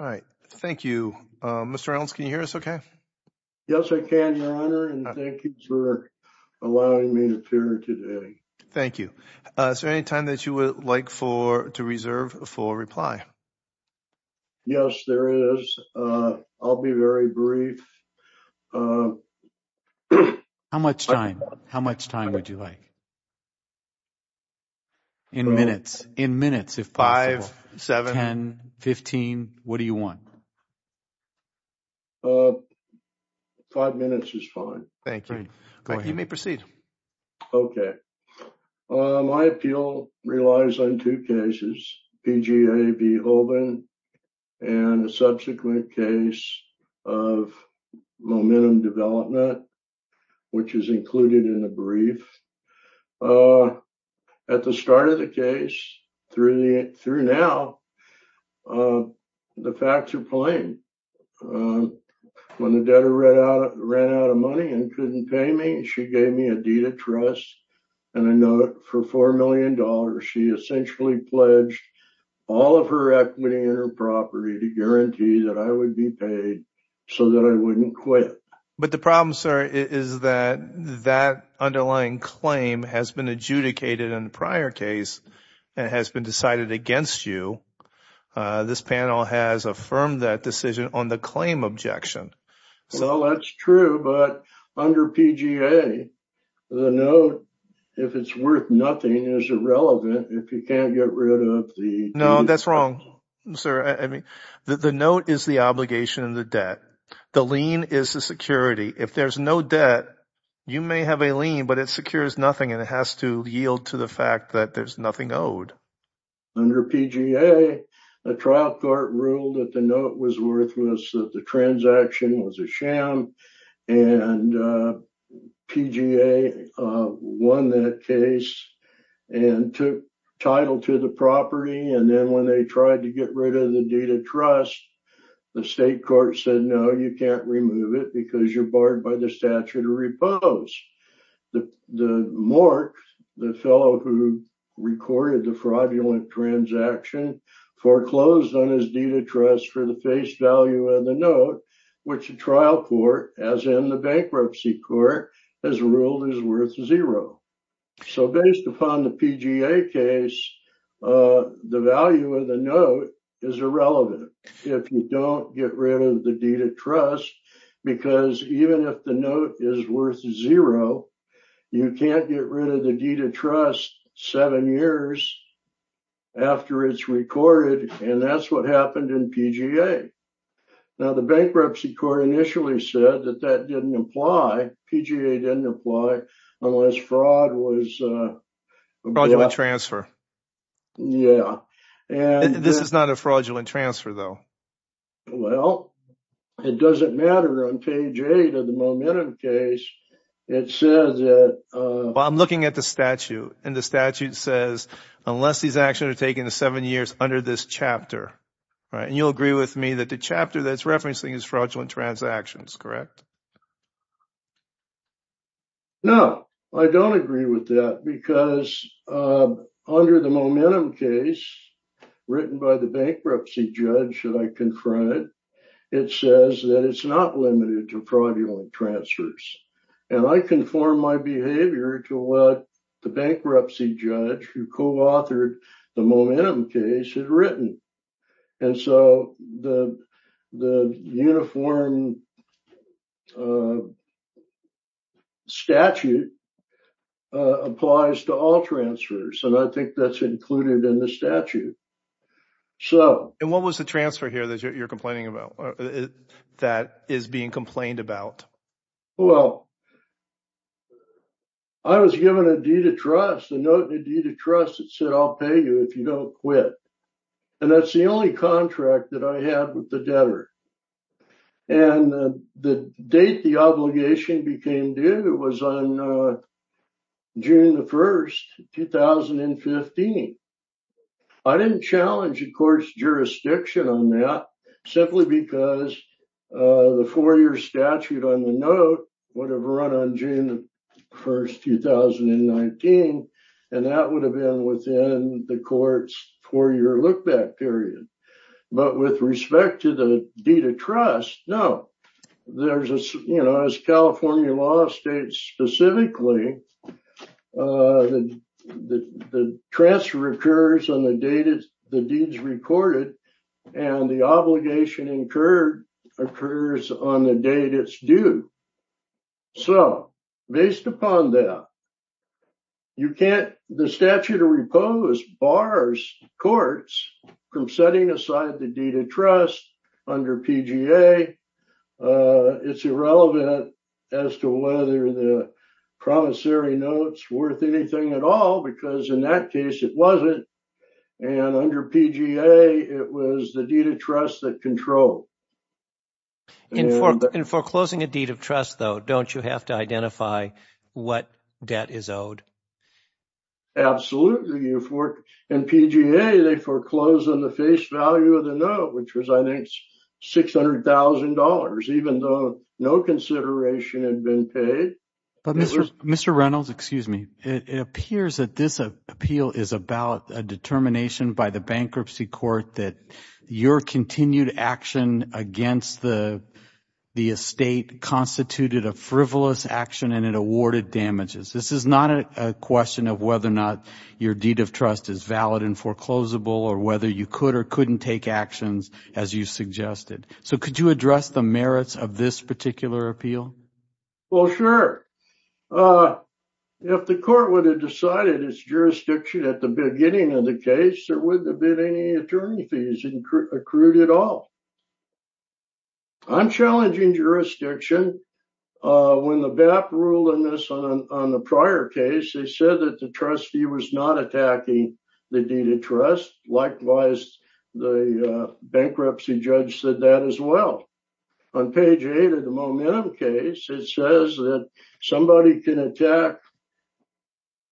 Yes, I can, Your Honor, and thank you for allowing me to appear today. Yes, there is. I'll be very brief. How much time would you like? In minutes, if possible. Five, seven, ten, fifteen. What do you want? Five minutes is fine. Thank you. You may proceed. Okay. My appeal relies on two cases, PGA v. Hoban and a subsequent case of momentum development, which is included in the brief. At the start of the case, through now, the facts are plain. When the debtor ran out of money and couldn't pay me, she gave me a deed of trust and a note for $4 million. She essentially pledged all of her equity in her property to guarantee that I would be paid so that I wouldn't quit. But the problem, sir, is that that underlying claim has been adjudicated in the prior case and has been decided against you. This panel has affirmed that decision on the claim objection. Well, that's true, but under PGA, the note, if it's worth nothing, is irrelevant if you can't get rid of the deed. No, that's wrong, sir. The note is the obligation of the debt. The lien is the security. If there's no debt, you may have a lien, but it secures nothing and it has to yield to the fact that there's nothing owed. Under PGA, a trial court ruled that the note was worthless, that the transaction was a sham, and PGA won that case and took title to the property. And then when they tried to get rid of the deed of trust, the state court said, no, you can't remove it because you're barred by the statute of repose. The morgue, the fellow who recorded the fraudulent transaction, foreclosed on his deed of trust for the face value of the note, which a trial court, as in the bankruptcy court, has ruled is worth zero. So based upon the PGA case, the value of the note is irrelevant if you don't get rid of the deed of trust, because even if the note is worth zero, you can't get rid of the deed of trust seven years after it's recorded. And that's what happened in PGA. Now, the bankruptcy court initially said that that didn't apply. PGA didn't apply unless fraud was a fraudulent transfer. Yeah. And this is not a fraudulent transfer, though. Well, it doesn't matter on page eight of the Momentum case. It says that I'm looking at the statute and the statute says unless these actions are taken seven years under this chapter. And you'll agree with me that the chapter that's referencing is fraudulent transactions, correct? No, I don't agree with that, because under the Momentum case written by the bankruptcy judge that I confronted, it says that it's not limited to fraudulent transfers. And I conform my behavior to what the bankruptcy judge who co-authored the Momentum case had written. And so the uniform statute applies to all transfers. And I think that's included in the statute. And what was the transfer here that you're complaining about, that is being complained about? Well, I was given a deed of trust, a note and a deed of trust that said, I'll pay you if you don't quit. And that's the only contract that I had with the debtor. And the date the obligation became due was on June the 1st, 2015. I didn't challenge the court's jurisdiction on that simply because the four year statute on the note would have run on June the 1st, 2019. And that would have been within the court's four year look back period. But with respect to the deed of trust, no. As California law states specifically, the transfer occurs on the date the deed is recorded and the obligation incurred occurs on the date it's due. So based upon that, the statute of repose bars courts from setting aside the deed of trust under PGA. It's irrelevant as to whether the promissory notes worth anything at all, because in that case, it wasn't. And under PGA, it was the deed of trust that controlled. In foreclosing a deed of trust, though, don't you have to identify what debt is owed? Absolutely. In PGA, they foreclose on the face value of the note, which was, I think, six hundred thousand dollars, even though no consideration had been paid. But Mr. Reynolds, excuse me, it appears that this appeal is about a determination by the bankruptcy court that your continued action against the estate constituted a frivolous action and it awarded damages. This is not a question of whether or not your deed of trust is valid and foreclosable or whether you could or couldn't take actions, as you suggested. So could you address the merits of this particular appeal? Well, sure. If the court would have decided its jurisdiction at the beginning of the case, there wouldn't have been any attorney fees accrued at all. I'm challenging jurisdiction. When the BAP ruled on this on the prior case, they said that the trustee was not attacking the deed of trust. Likewise, the bankruptcy judge said that as well. On page eight of the momentum case, it says that somebody can attack.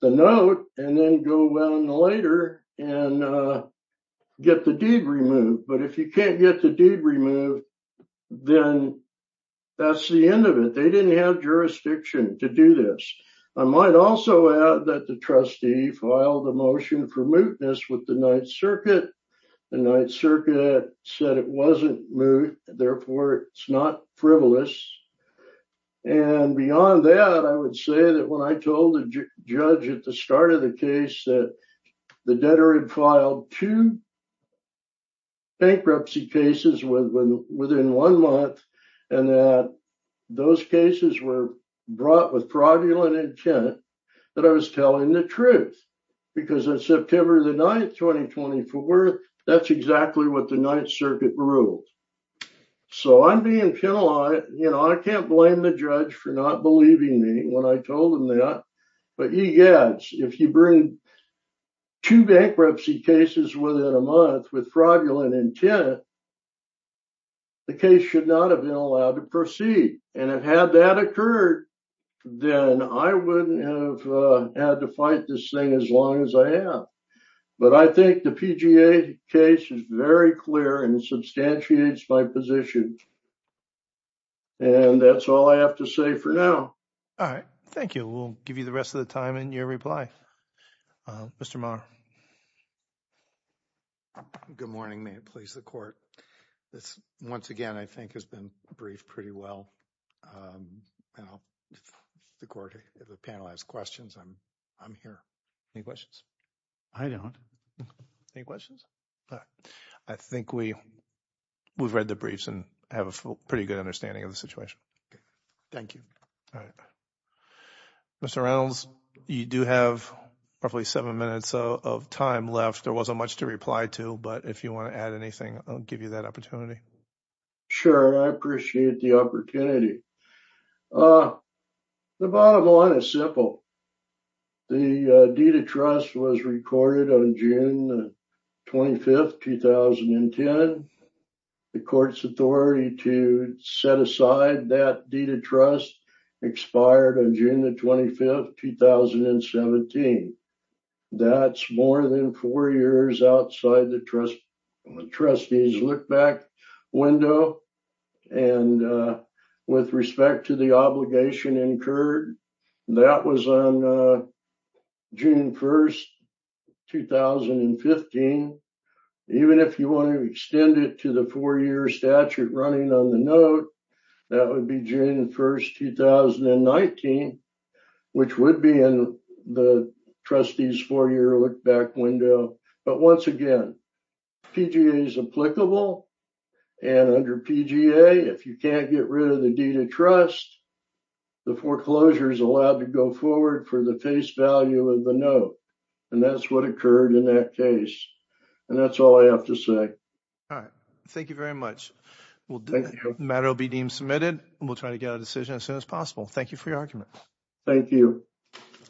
The note and then go well in the later and get the deed removed. But if you can't get the deed removed, then that's the end of it. They didn't have jurisdiction to do this. I might also add that the trustee filed a motion for mootness with the Ninth Circuit. The Ninth Circuit said it wasn't moot. Therefore, it's not frivolous. And beyond that, I would say that when I told the judge at the start of the case that the debtor had filed two bankruptcy cases within one month and that those cases were brought with fraudulent intent, that I was telling the truth because of September the 9th, 2024. That's exactly what the Ninth Circuit ruled. So I'm being penalized. You know, I can't blame the judge for not believing me when I told him that. But yes, if you bring two bankruptcy cases within a month with fraudulent intent. The case should not have been allowed to proceed. And if had that occurred, then I wouldn't have had to fight this thing as long as I have. But I think the PGA case is very clear and substantiates my position. And that's all I have to say for now. All right. Thank you. We'll give you the rest of the time and your reply. Mr. Maher. Good morning. May it please the court. This once again, I think, has been briefed pretty well. The court, the panel has questions. I'm I'm here. Any questions? I don't. Any questions? I think we we've read the briefs and have a pretty good understanding of the situation. Thank you. Mr. Reynolds, you do have roughly seven minutes of time left. There wasn't much to reply to. But if you want to add anything, I'll give you that opportunity. Sure. I appreciate the opportunity. The bottom line is simple. The deed of trust was recorded on June 25th, 2010. The court's authority to set aside that deed of trust expired on June 25th, 2017. That's more than four years outside the trust trustees look back window. And with respect to the obligation incurred, that was on June 1st, 2015. Even if you want to extend it to the four year statute running on the note, that would be June 1st, 2019, which would be in the trustees for your look back window. But once again, PGA is applicable. And under PGA, if you can't get rid of the deed of trust, the foreclosure is allowed to go forward for the face value of the note. And that's what occurred in that case. And that's all I have to say. All right. Thank you very much. Matter will be deemed submitted and we'll try to get a decision as soon as possible. Thank you for your argument. Thank you.